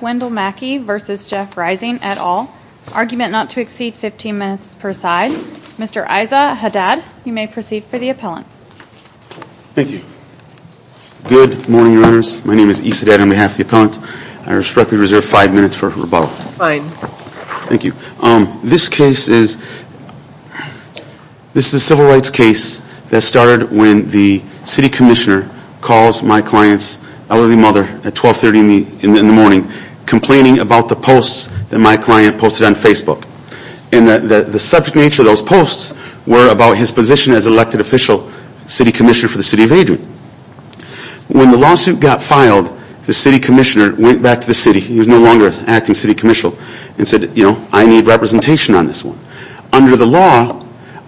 Wendell Mackey v. Jeff Rising, et al. Argument not to exceed 15 minutes per side. Mr. Isa Haddad, you may proceed for the appellant. Thank you. Good morning, Your Honors. My name is Isa Haddad on behalf of the appellant. I respectfully reserve five minutes for rebuttal. Fine. Thank you. This case is a civil rights case that started when the city commissioner calls my clients elderly mother at 1230 in the morning complaining about the posts that my client posted on Facebook. And the subject nature of those posts were about his position as elected official city commissioner for the city of Adrian. When the lawsuit got filed, the city commissioner went back to the city. He was no longer an acting city commissioner and said, you know, I need representation on this one. Under the law,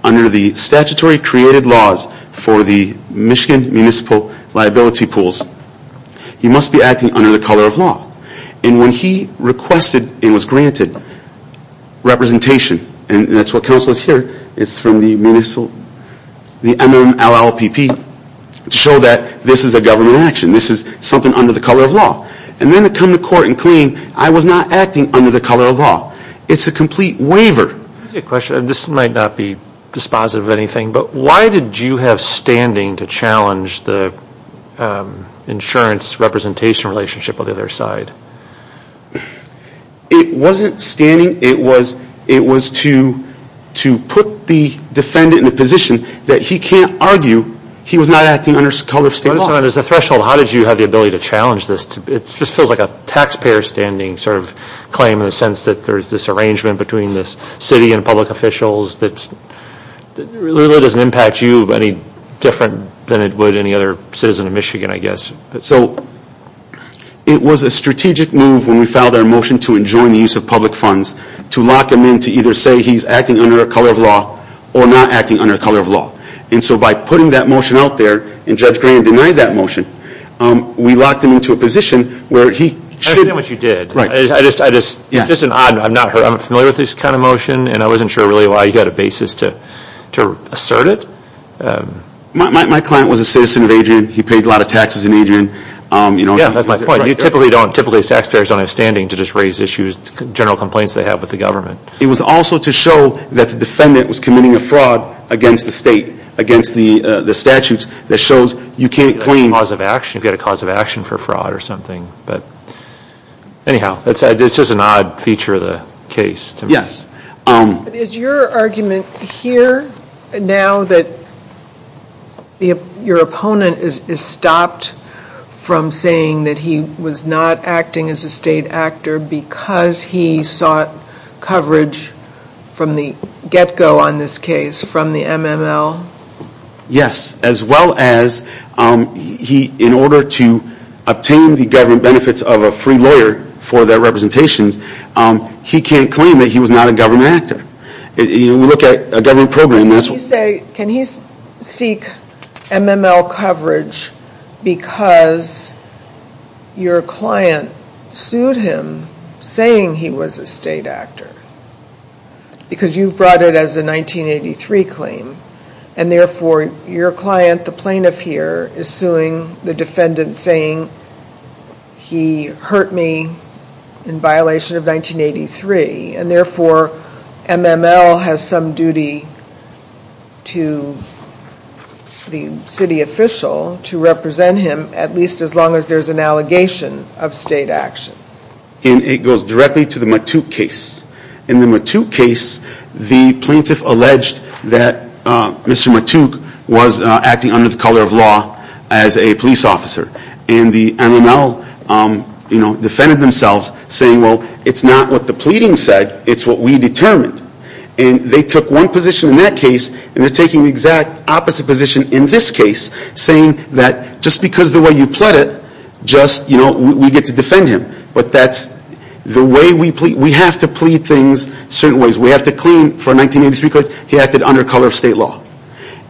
under the statutory created laws for the Michigan Municipal Liability Pools, he must be acting under the color of law. And when he requested and was granted representation, and that's what counsel is here, it's from the MMLLPP to show that this is a government action. This is something under the color of law. And then to come to court and claim I was not acting under the color of law. It's a complete waiver. I have a question. This might not be dispositive of anything, but why did you have standing to challenge the insurance representation relationship on the other side? It wasn't standing. It was to put the defendant in a position that he can't argue he was not acting under the color of state law. As a threshold, how did you have the ability to challenge this? It just feels like a taxpayer standing sort of claim in the sense that there's this arrangement between this city and public officials that really doesn't impact you any different than it would any other citizen of Michigan, I guess. So it was a strategic move when we filed our motion to enjoin the use of public funds to lock him in to either say he's acting under the color of law or not acting under the color of law. And so by putting that motion out there, and Judge Graham denied that motion, we locked him into a position where he should... I understand what you did. I'm familiar with this kind of motion, and I wasn't sure really why you had a basis to assert it. My client was a citizen of Adrian. He paid a lot of taxes in Adrian. Yeah, that's my point. Typically, taxpayers don't have standing to just raise issues, general complaints they have with the government. It was also to show that the defendant was committing a fraud against the state, against the statutes that shows you can't claim... You've got a cause of action for fraud or something. Anyhow, it's just an odd feature of the case. Is your argument here now that your opponent is stopped from saying that he was not acting as a state actor because he sought coverage from the get-go on this case, from the MML? Yes, as well as in order to obtain the government benefits of a free lawyer for their representations, he can't claim that he was not a government actor. You look at a government program... Can he seek MML coverage because your client sued him saying he was a state actor? Because you brought it as a 1983 claim, and therefore your client, the plaintiff here, is suing the defendant saying he hurt me in violation of 1983, and therefore MML has some duty to the city official to represent him, at least as long as there's an allegation of state action. It goes directly to the Matuk case. In the Matuk case, the plaintiff alleged that Mr. Matuk was acting under the color of law as a police officer. And the MML defended themselves saying, well, it's not what the pleading said, it's what we determined. And they took one position in that case, and they're taking the exact opposite position in this case, saying that just because of the way you pled it, we get to defend him. But that's the way we plead. We have to plead things certain ways. We have to claim for 1983 claims he acted under color of state law.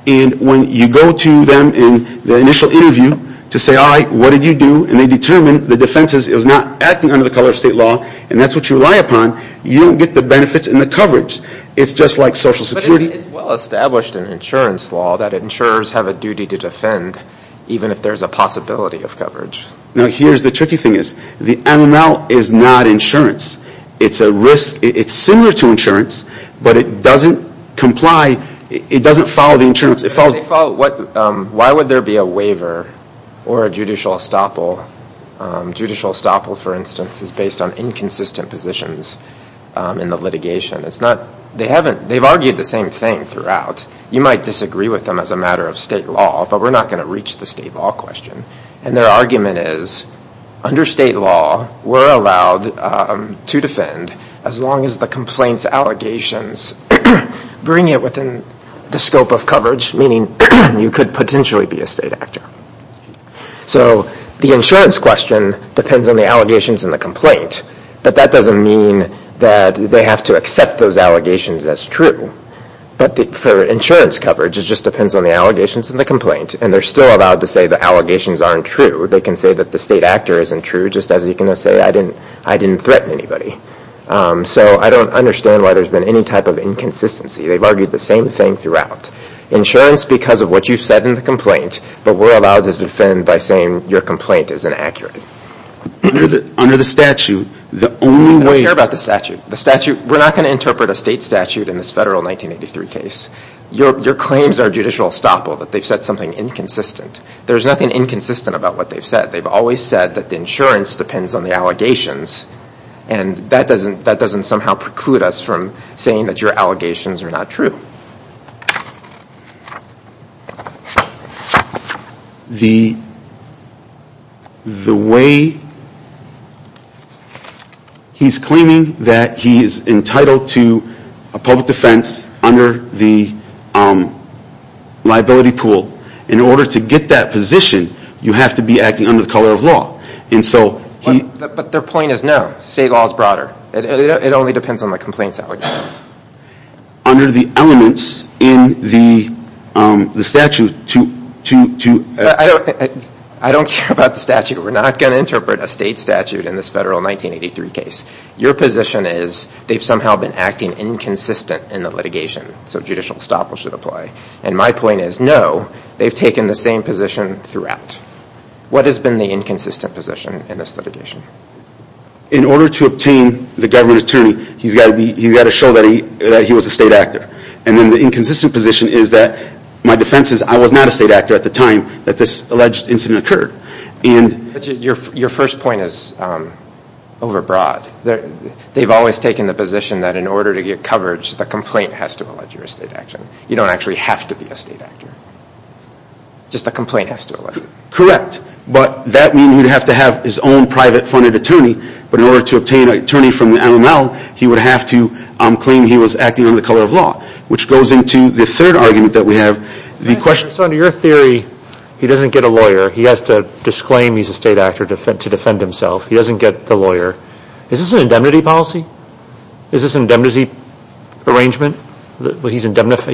And when you go to them in the initial interview to say, all right, what did you do, and they determine the defense is it was not acting under the color of state law, and that's what you rely upon, you don't get the benefits and the coverage. It's just like Social Security. But it is well established in insurance law that insurers have a duty to defend, even if there's a possibility of coverage. Now, here's the tricky thing is, the MML is not insurance. It's similar to insurance, but it doesn't comply. It doesn't follow the insurance. Why would there be a waiver or a judicial estoppel? Judicial estoppel, for instance, is based on inconsistent positions in the litigation. They've argued the same thing throughout. You might disagree with them as a matter of state law, but we're not going to reach the state law question. And their argument is, under state law, we're allowed to defend as long as the complaint's allegations bring it within the scope of coverage, meaning you could potentially be a state actor. So the insurance question depends on the allegations in the complaint, but that doesn't mean that they have to accept those allegations as true. But for insurance coverage, it just depends on the allegations in the complaint, and they're still allowed to say the allegations aren't true. They can say that the state actor isn't true, just as you can say, I didn't threaten anybody. So I don't understand why there's been any type of inconsistency. They've argued the same thing throughout. Insurance, because of what you said in the complaint, but we're allowed to defend by saying your complaint is inaccurate. Under the statute, the only way... We're not going to interpret a state statute in this federal 1983 case. Your claims are judicial estoppel, that they've said something inconsistent. There's nothing inconsistent about what they've said. They've always said that the insurance depends on the allegations, and that doesn't somehow preclude us from saying that your allegations are not true. He's claiming that he is entitled to a public defense under the liability pool. In order to get that position, you have to be acting under the color of law. But their point is, no, state law is broader. It only depends on the complaints allegations. Under the elements in the statute, to... I don't care about the statute. We're not going to interpret a state statute in this federal 1983 case. Your position is, they've somehow been acting inconsistent in the litigation, so judicial estoppel should apply. And my point is, no, they've taken the same position throughout. What has been the inconsistent position in this litigation? In order to obtain the government attorney, he's got to show that he was a state actor. And then the inconsistent position is that my defense is I was not a state actor at the time that this alleged incident occurred. Your first point is overbroad. They've always taken the position that in order to get coverage, the complaint has to allege your state action. You don't actually have to be a state actor. Just the complaint has to allege it. Correct. But that means he'd have to have his own private funded attorney. But in order to obtain an attorney from the NML, he would have to claim he was acting under the color of law. Which goes into the third argument that we have. So under your theory, he doesn't get a lawyer. He has to disclaim he's a state actor to defend himself. He doesn't get the lawyer. Is this an indemnity policy? Is this an indemnity arrangement? He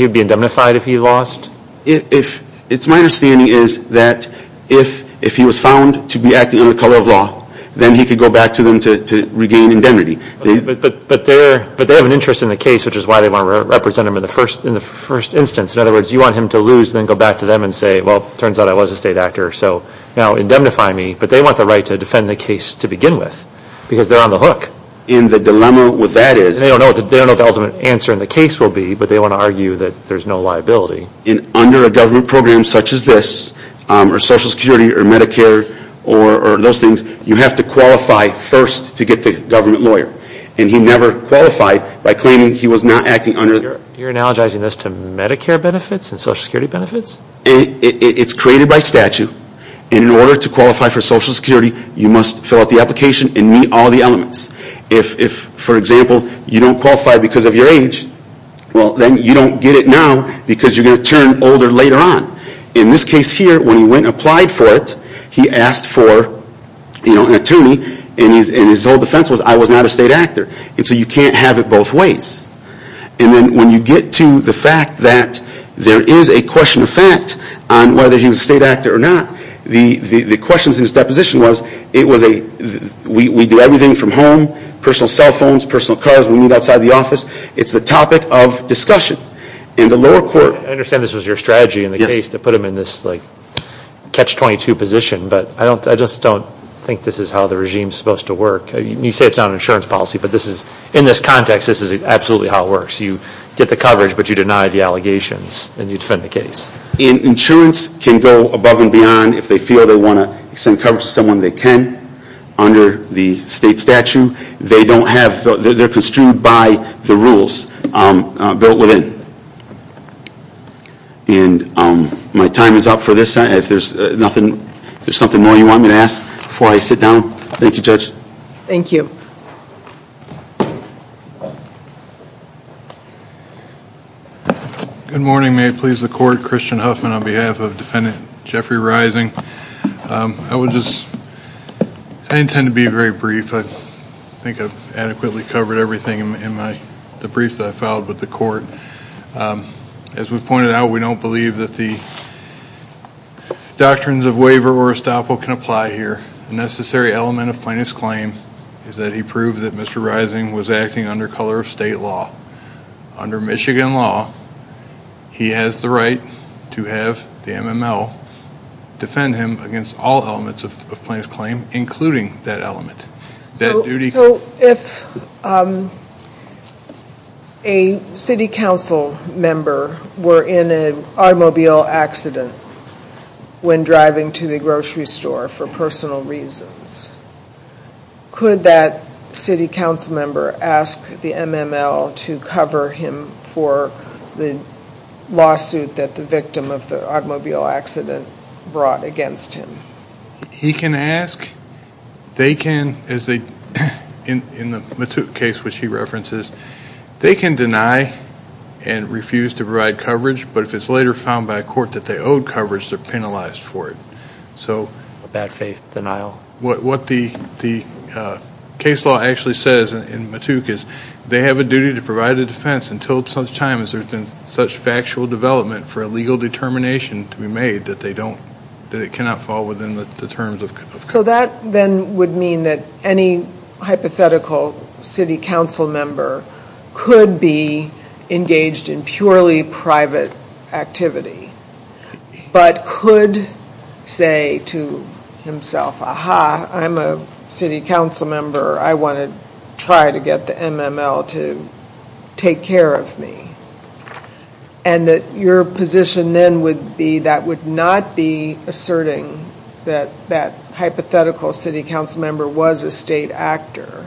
would be indemnified if he lost? It's my understanding is that if he was found to be acting under the color of law, then he could go back to them to regain indemnity. But they have an interest in the case, which is why they want to represent him in the first instance. In other words, you want him to lose and then go back to them and say, well, it turns out I was a state actor, so now indemnify me. But they want the right to defend the case to begin with because they're on the hook. And the dilemma with that is? They don't know what the ultimate answer in the case will be, but they want to argue that there's no liability. Under a government program such as this, or Social Security, or Medicare, or those things, you have to qualify first to get the government lawyer. And he never qualified by claiming he was not acting under... You're analogizing this to Medicare benefits and Social Security benefits? It's created by statute, and in order to qualify for Social Security, you must fill out the application and meet all the elements. If, for example, you don't qualify because of your age, well, then you don't get it now because you're going to turn older later on. In this case here, when he went and applied for it, he asked for an attorney, and his whole defense was, I was not a state actor. And so you can't have it both ways. And then when you get to the fact that there is a question of fact on whether he was a state actor or not, the questions in his deposition was, we do everything from home, personal cell phones, personal cars, we meet outside the office, it's the topic of discussion. I understand this was your strategy in the case to put him in this catch-22 position, but I just don't think this is how the regime is supposed to work. You say it's not an insurance policy, but in this context, this is absolutely how it works. You get the coverage, but you deny the allegations, and you defend the case. Insurance can go above and beyond if they feel they want to send coverage to someone they can. Under the state statute, they're construed by the rules built within. My time is up for this. If there's something more you want me to ask before I sit down, thank you, Judge. Thank you. Good morning. May it please the Court. Christian Huffman on behalf of Defendant Jeffrey Rising. I would just, I intend to be very brief. I think I've adequately covered everything in the brief that I filed with the Court. As was pointed out, we don't believe that the doctrines of waiver or estoppel can apply here. The necessary element of plaintiff's claim is that he proved that Mr. Rising was acting under color of state law. Under Michigan law, he has the right to have the MML defend him against all elements of plaintiff's claim, including that element. So if a city council member were in an automobile accident when driving to the grocery store for personal reasons, could that city council member ask the MML to cover him for the lawsuit that the victim of the automobile accident brought against him? He can ask. They can, in the case which he references, they can deny and refuse to provide coverage. But if it's later found by a court that they owed coverage, they're penalized for it. Bad faith denial? What the case law actually says in Mattook is they have a duty to provide a defense until such time as there's been such factual development for a legal determination to be made that it cannot fall within the terms of court. So that then would mean that any hypothetical city council member could be engaged in purely private activity, but could say to himself, aha, I'm a city council member. I want to try to get the MML to take care of me. And that your position then would be that would not be asserting that that hypothetical city council member was a state actor,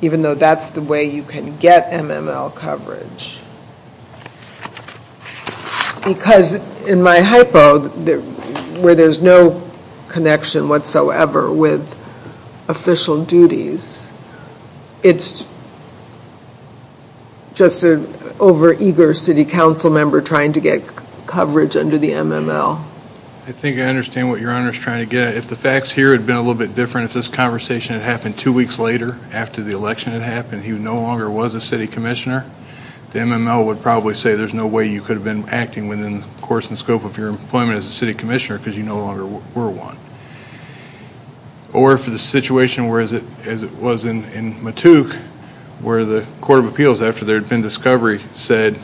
even though that's the way you can get MML coverage. Because in my hypo, where there's no connection whatsoever with official duties, it's just an over-eager city council member trying to get coverage under the MML. I think I understand what your Honor's trying to get at. If the facts here had been a little bit different, if this conversation had happened two weeks later after the election had happened, he no longer was a city commissioner, the MML would probably say there's no way you could have been acting within the course and scope of your employment as a city commissioner because you no longer were one. Or for the situation as it was in Mattook, where the Court of Appeals, after there had been discovery, said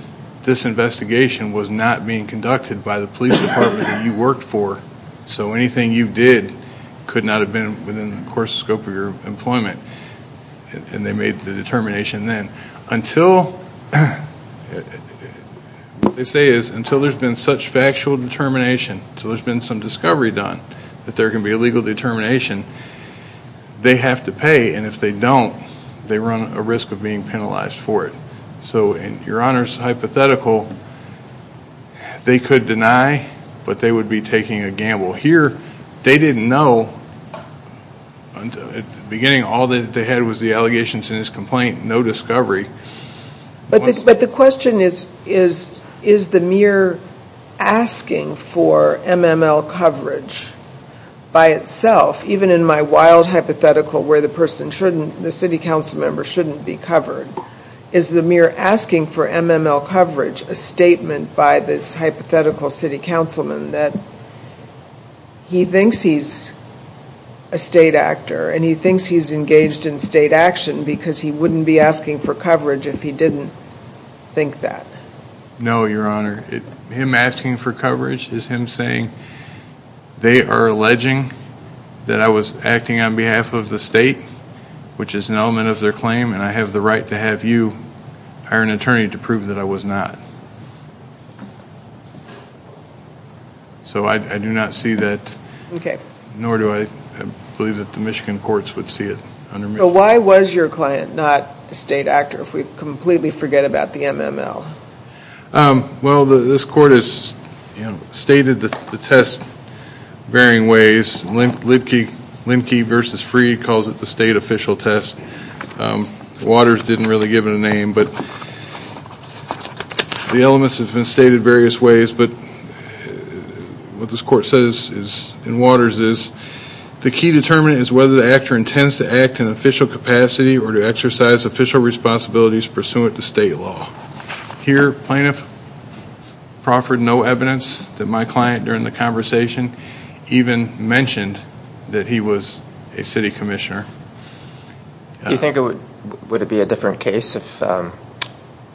this investigation was not being conducted by the police department that you worked for, so anything you did could not have been within the course and scope of your employment, and they made the determination then. Until, what they say is until there's been such factual determination, until there's been some discovery done that there can be a legal determination, they have to pay, and if they don't, they run a risk of being penalized for it. So in your Honor's hypothetical, they could deny, but they would be taking a gamble. Here, they didn't know, at the beginning all they had was the allegations in his complaint, no discovery. But the question is, is the mere asking for MML coverage by itself, even in my wild hypothetical where the person shouldn't, the city council member shouldn't be covered, is the mere asking for MML coverage a statement by this hypothetical city councilman that he thinks he's a state actor and he thinks he's engaged in state action because he wouldn't be asking for coverage if he didn't think that? No, your Honor. Him asking for coverage is him saying they are alleging that I was acting on behalf of the state, which is an element of their claim, and I have the right to have you hire an attorney to prove that I was not. So I do not see that, nor do I believe that the Michigan courts would see it. So why was your client not a state actor if we completely forget about the MML? Well, this court has stated the test varying ways. Limke v. Freed calls it the state official test. Waters didn't really give it a name, but the elements have been stated various ways. But what this court says in Waters is, the key determinant is whether the actor intends to act in official capacity or to exercise official responsibilities pursuant to state law. Here, plaintiff proffered no evidence that my client during the conversation even mentioned that he was a city commissioner. Do you think it would be a different case if...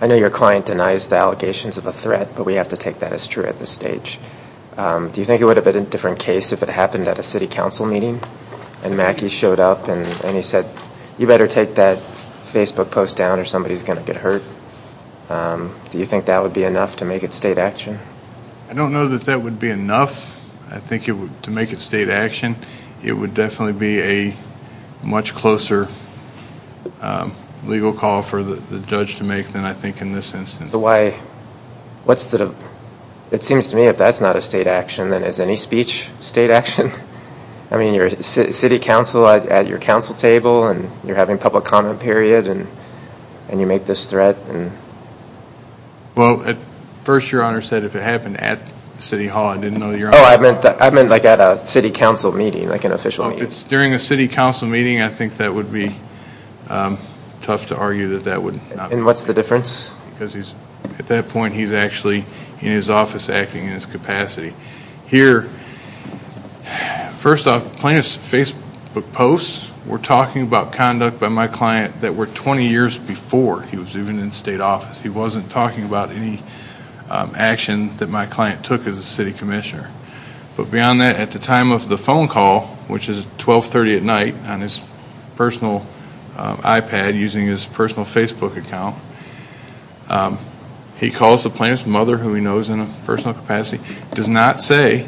I know your client denies the allegations of a threat, but we have to take that as true at this stage. Do you think it would have been a different case if it happened at a city council meeting and Mackey showed up and he said, you better take that Facebook post down or somebody's going to get hurt? Do you think that would be enough to make it state action? I don't know that that would be enough to make it state action. It would definitely be a much closer legal call for the judge to make than I think in this instance. It seems to me if that's not a state action, then is any speech state action? I mean, you're city council at your council table and you're having public comment period and you make this threat. Well, at first your honor said if it happened at city hall, I didn't know your honor... Oh, I meant like at a city council meeting, like an official meeting. If it's during a city council meeting, I think that would be tough to argue that that would... And what's the difference? Because at that point he's actually in his office acting in his capacity. Here, first off, plaintiff's Facebook posts were talking about conduct by my client that were 20 years before he was even in state office. He wasn't talking about any action that my client took as a city commissioner. But beyond that, at the time of the phone call, which is 1230 at night on his personal iPad using his personal Facebook account, he calls the plaintiff's mother, who he knows in a personal capacity, does not say,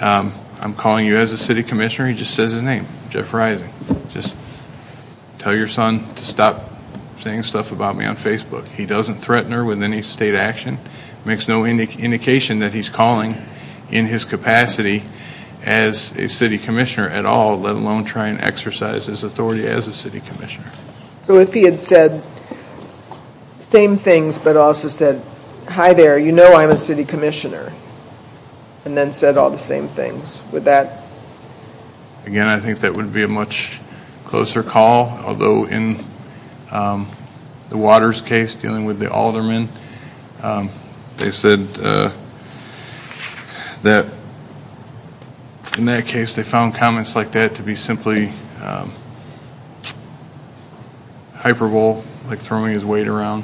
I'm calling you as a city commissioner, he just says his name, Jeff Rising. Just tell your son to stop saying stuff about me on Facebook. He doesn't threaten her with any state action, makes no indication that he's calling in his capacity as a city commissioner at all, let alone try and exercise his authority as a city commissioner. So if he had said the same things, but also said, hi there, you know I'm a city commissioner, and then said all the same things, would that... Again, I think that would be a much closer call. Although in the Waters case, dealing with the aldermen, they said that in that case, they found comments like that to be simply hyperbole, like throwing his weight around.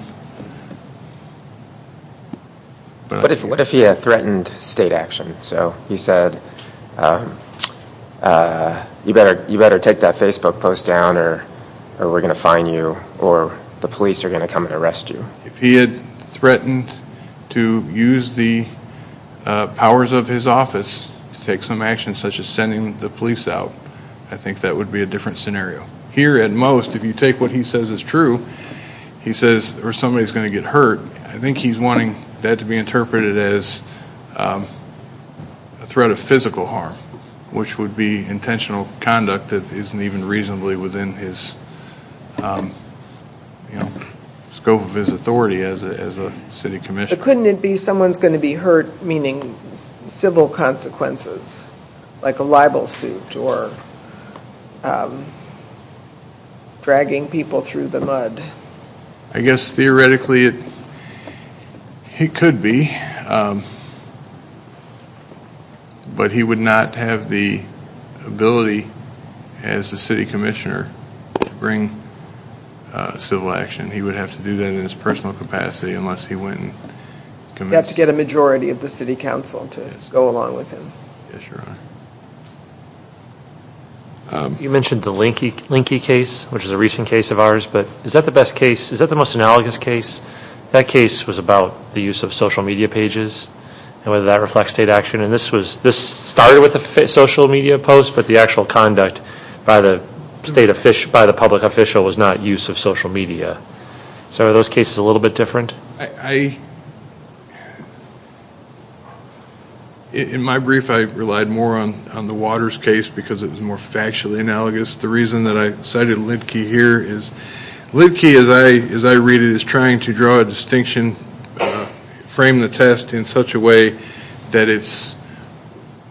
What if he had threatened state action? So he said, you better take that Facebook post down, or we're going to fine you, or the police are going to come and arrest you. If he had threatened to use the powers of his office to take some action, such as sending the police out, I think that would be a different scenario. Here at most, if you take what he says is true, he says, or somebody's going to get hurt, I think he's wanting that to be interpreted as a threat of physical harm, which would be intentional conduct that isn't even reasonably within his scope of his authority as a city commissioner. But couldn't it be someone's going to be hurt, meaning civil consequences, like a libel suit, or dragging people through the mud? I guess theoretically it could be. But he would not have the ability as a city commissioner to bring civil action. He would have to do that in his personal capacity unless he went and commenced... You'd have to get a majority of the city council to go along with him. Yes, Your Honor. You mentioned the Linky case, which is a recent case of ours, but is that the best case, is that the most analogous case? That case was about the use of social media pages and whether that reflects state action, and this started with a social media post, but the actual conduct by the public official was not use of social media. So are those cases a little bit different? I relied more on the Waters case because it was more factually analogous. The reason that I cited Linky here is Linky, as I read it, is trying to draw a distinction, frame the test in such a way that it's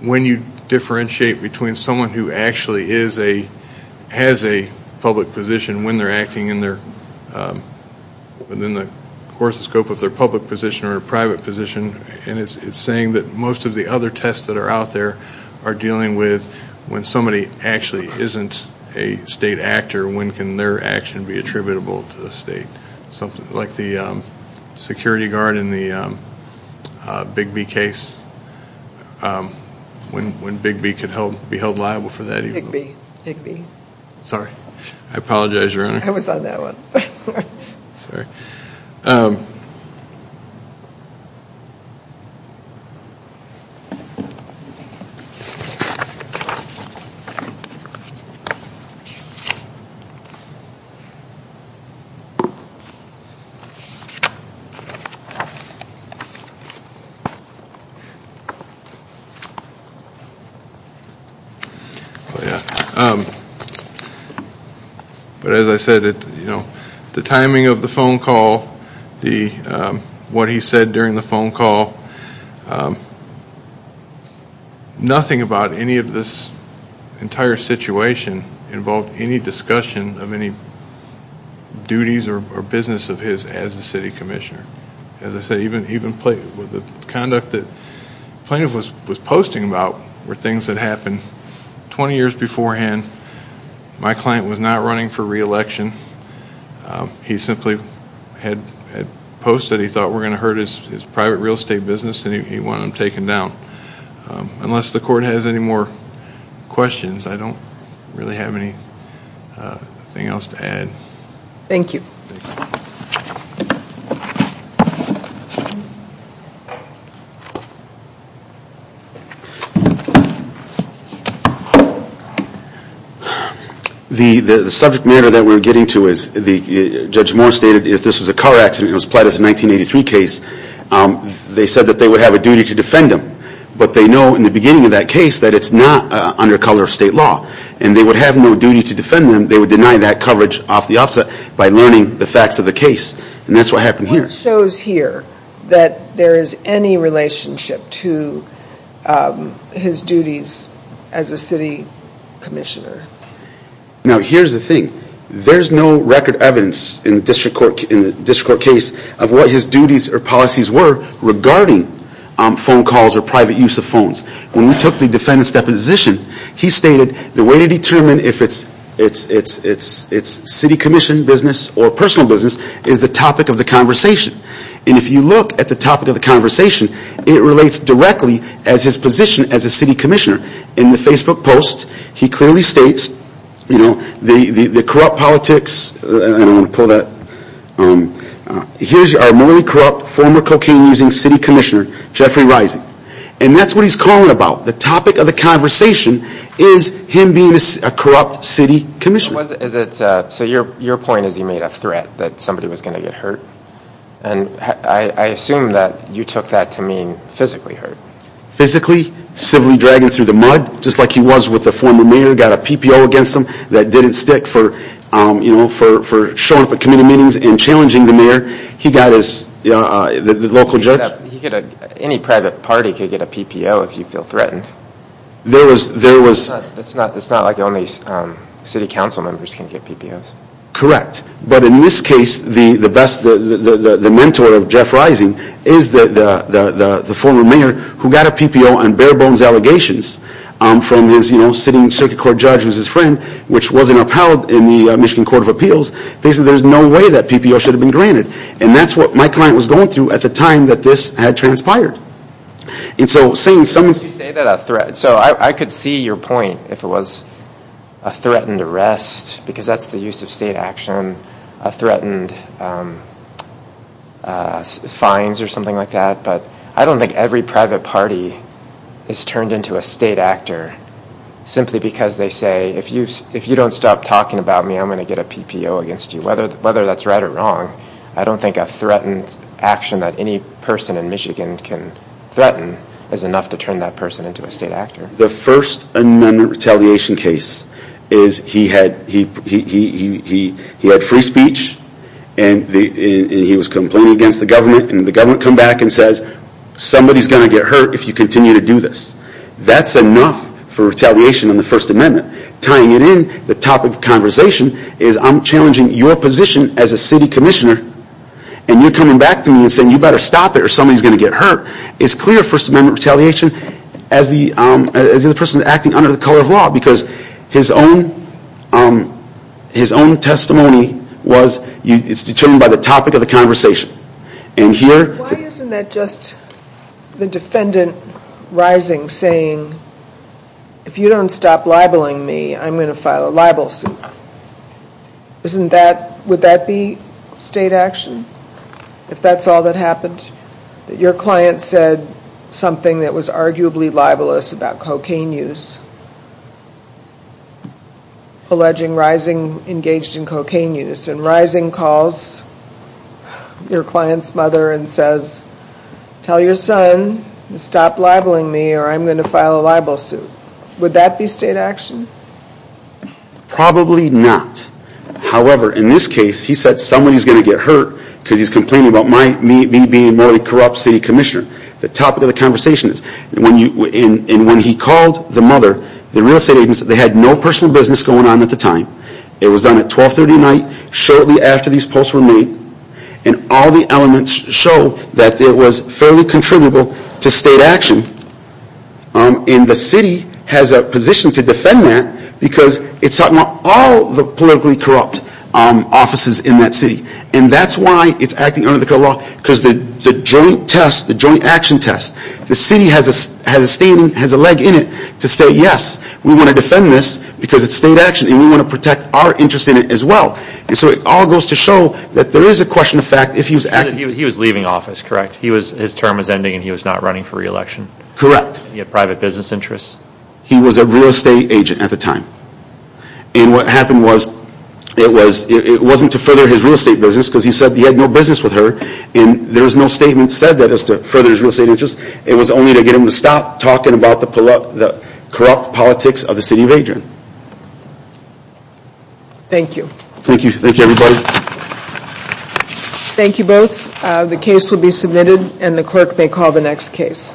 when you differentiate between someone who actually has a public position when they're acting within the course of scope of their public position or private position, and it's saying that most of the other tests that are out there are dealing with when somebody actually isn't a state actor, when can their action be attributable to the state. Like the security guard in the Bigby case, when Bigby could be held liable for that. Bigby. I apologize, Your Honor. But as I said, the timing of the phone call, what he said during the phone call, nothing about any of this entire situation involved any discussion of any duties or business of his as the city commissioner. As I said, even the conduct that Plaintiff was posting about were things that happened 20 years beforehand, my client was not running for reelection. He simply had posts that he thought were going to hurt his private real estate business and he wanted them taken down. Unless the court has any more questions, I don't really have anything else to add. Thank you. The subject matter that we're getting to, as Judge Moore stated, if this was a car accident and it was applied as a 1983 case, they said that they would have a duty to defend him. But they know in the beginning of that case that it's not under color of state law. And they would have no duty to defend him, they would deny that coverage off the offset by learning the facts of the case. And that's what happened here. It shows here that there is any relationship to his duties as a city commissioner. Now here's the thing. There's no record evidence in the district court case of what his duties or policies were regarding phone calls or private use of phones. When we took the defendant's deposition, he stated the way to determine if it's city commission business or personal business is the topic of the conversation. And if you look at the topic of the conversation, it relates directly as his position as a city commissioner. In the Facebook post, he clearly states, you know, the corrupt politics, here's our morally corrupt, former cocaine-using city commissioner, Jeffrey Rising. And that's what he's calling about. The topic of the conversation is him being a corrupt city commissioner. So your point is he made a threat that somebody was going to get hurt? And I assume that you took that to mean physically hurt. Physically, civilly dragging through the mud, just like he was with the former mayor, got a PPO against him that didn't stick for showing up at committee meetings and challenging the mayor. He got his, the local judge. Any private party could get a PPO if you feel threatened. It's not like only city council members can get PPOs. Correct. But in this case, the best, the mentor of Jeff Rising is the former mayor who got a PPO on bare bones allegations from his, you know, sitting circuit court judge who was his friend, which wasn't upheld in the Michigan Court of Appeals. Basically, there's no way that PPO should have been granted. And that's what my client was going through at the time that this had transpired. So I could see your point, if it was a threatened arrest, because that's the use of state action. A threatened fines or something like that. But I don't think every private party is turned into a state actor simply because they say, if you don't stop talking about me, I'm going to get a PPO against you. Whether that's right or wrong, I don't think a threatened action that any person in Michigan can threaten is enough to turn that person into a state actor. The First Amendment retaliation case is he had free speech, and he was complaining against the government. And the government comes back and says, somebody's going to get hurt if you continue to do this. That's enough for retaliation in the First Amendment. Tying it in, the topic of conversation is I'm challenging your position as a city commissioner, and you're coming back to me and saying you better stop it or somebody's going to get hurt. It's clear First Amendment retaliation as the person acting under the color of law, because his own testimony was determined by the topic of the conversation. And here... Your client said, if you don't stop labeling me, I'm going to file a libel suit. Wouldn't that be state action, if that's all that happened? Your client said something that was arguably libelous about cocaine use, alleging Rising engaged in cocaine use. And Rising calls your client's mother and says, tell your son to stop labeling me or I'm going to file a libel suit. Probably not. However, in this case, he said somebody's going to get hurt because he's complaining about me being a morally corrupt city commissioner. The topic of the conversation is, when he called the mother, the real estate agents, they had no personal business going on at the time. It was done at 1230 night, shortly after these posts were made. And all the elements show that it was fairly contributable to state action. And the city has a position to defend that, because it's talking about all the politically corrupt offices in that city. And that's why it's acting under the color of law, because the joint test, the joint action test, the city has a leg in it to say, yes, we want to defend this because it's state action and we want to protect our interest in it as well. And so it all goes to show that there is a question of fact, if he was acting... Correct. He was a real estate agent at the time. And what happened was, it wasn't to further his real estate business, because he said he had no business with her. And there was no statement said that as to further his real estate interest. It was only to get him to stop talking about the corrupt politics of the city of Adrian. Thank you. Thank you both. The case will be submitted and the clerk may call the next case.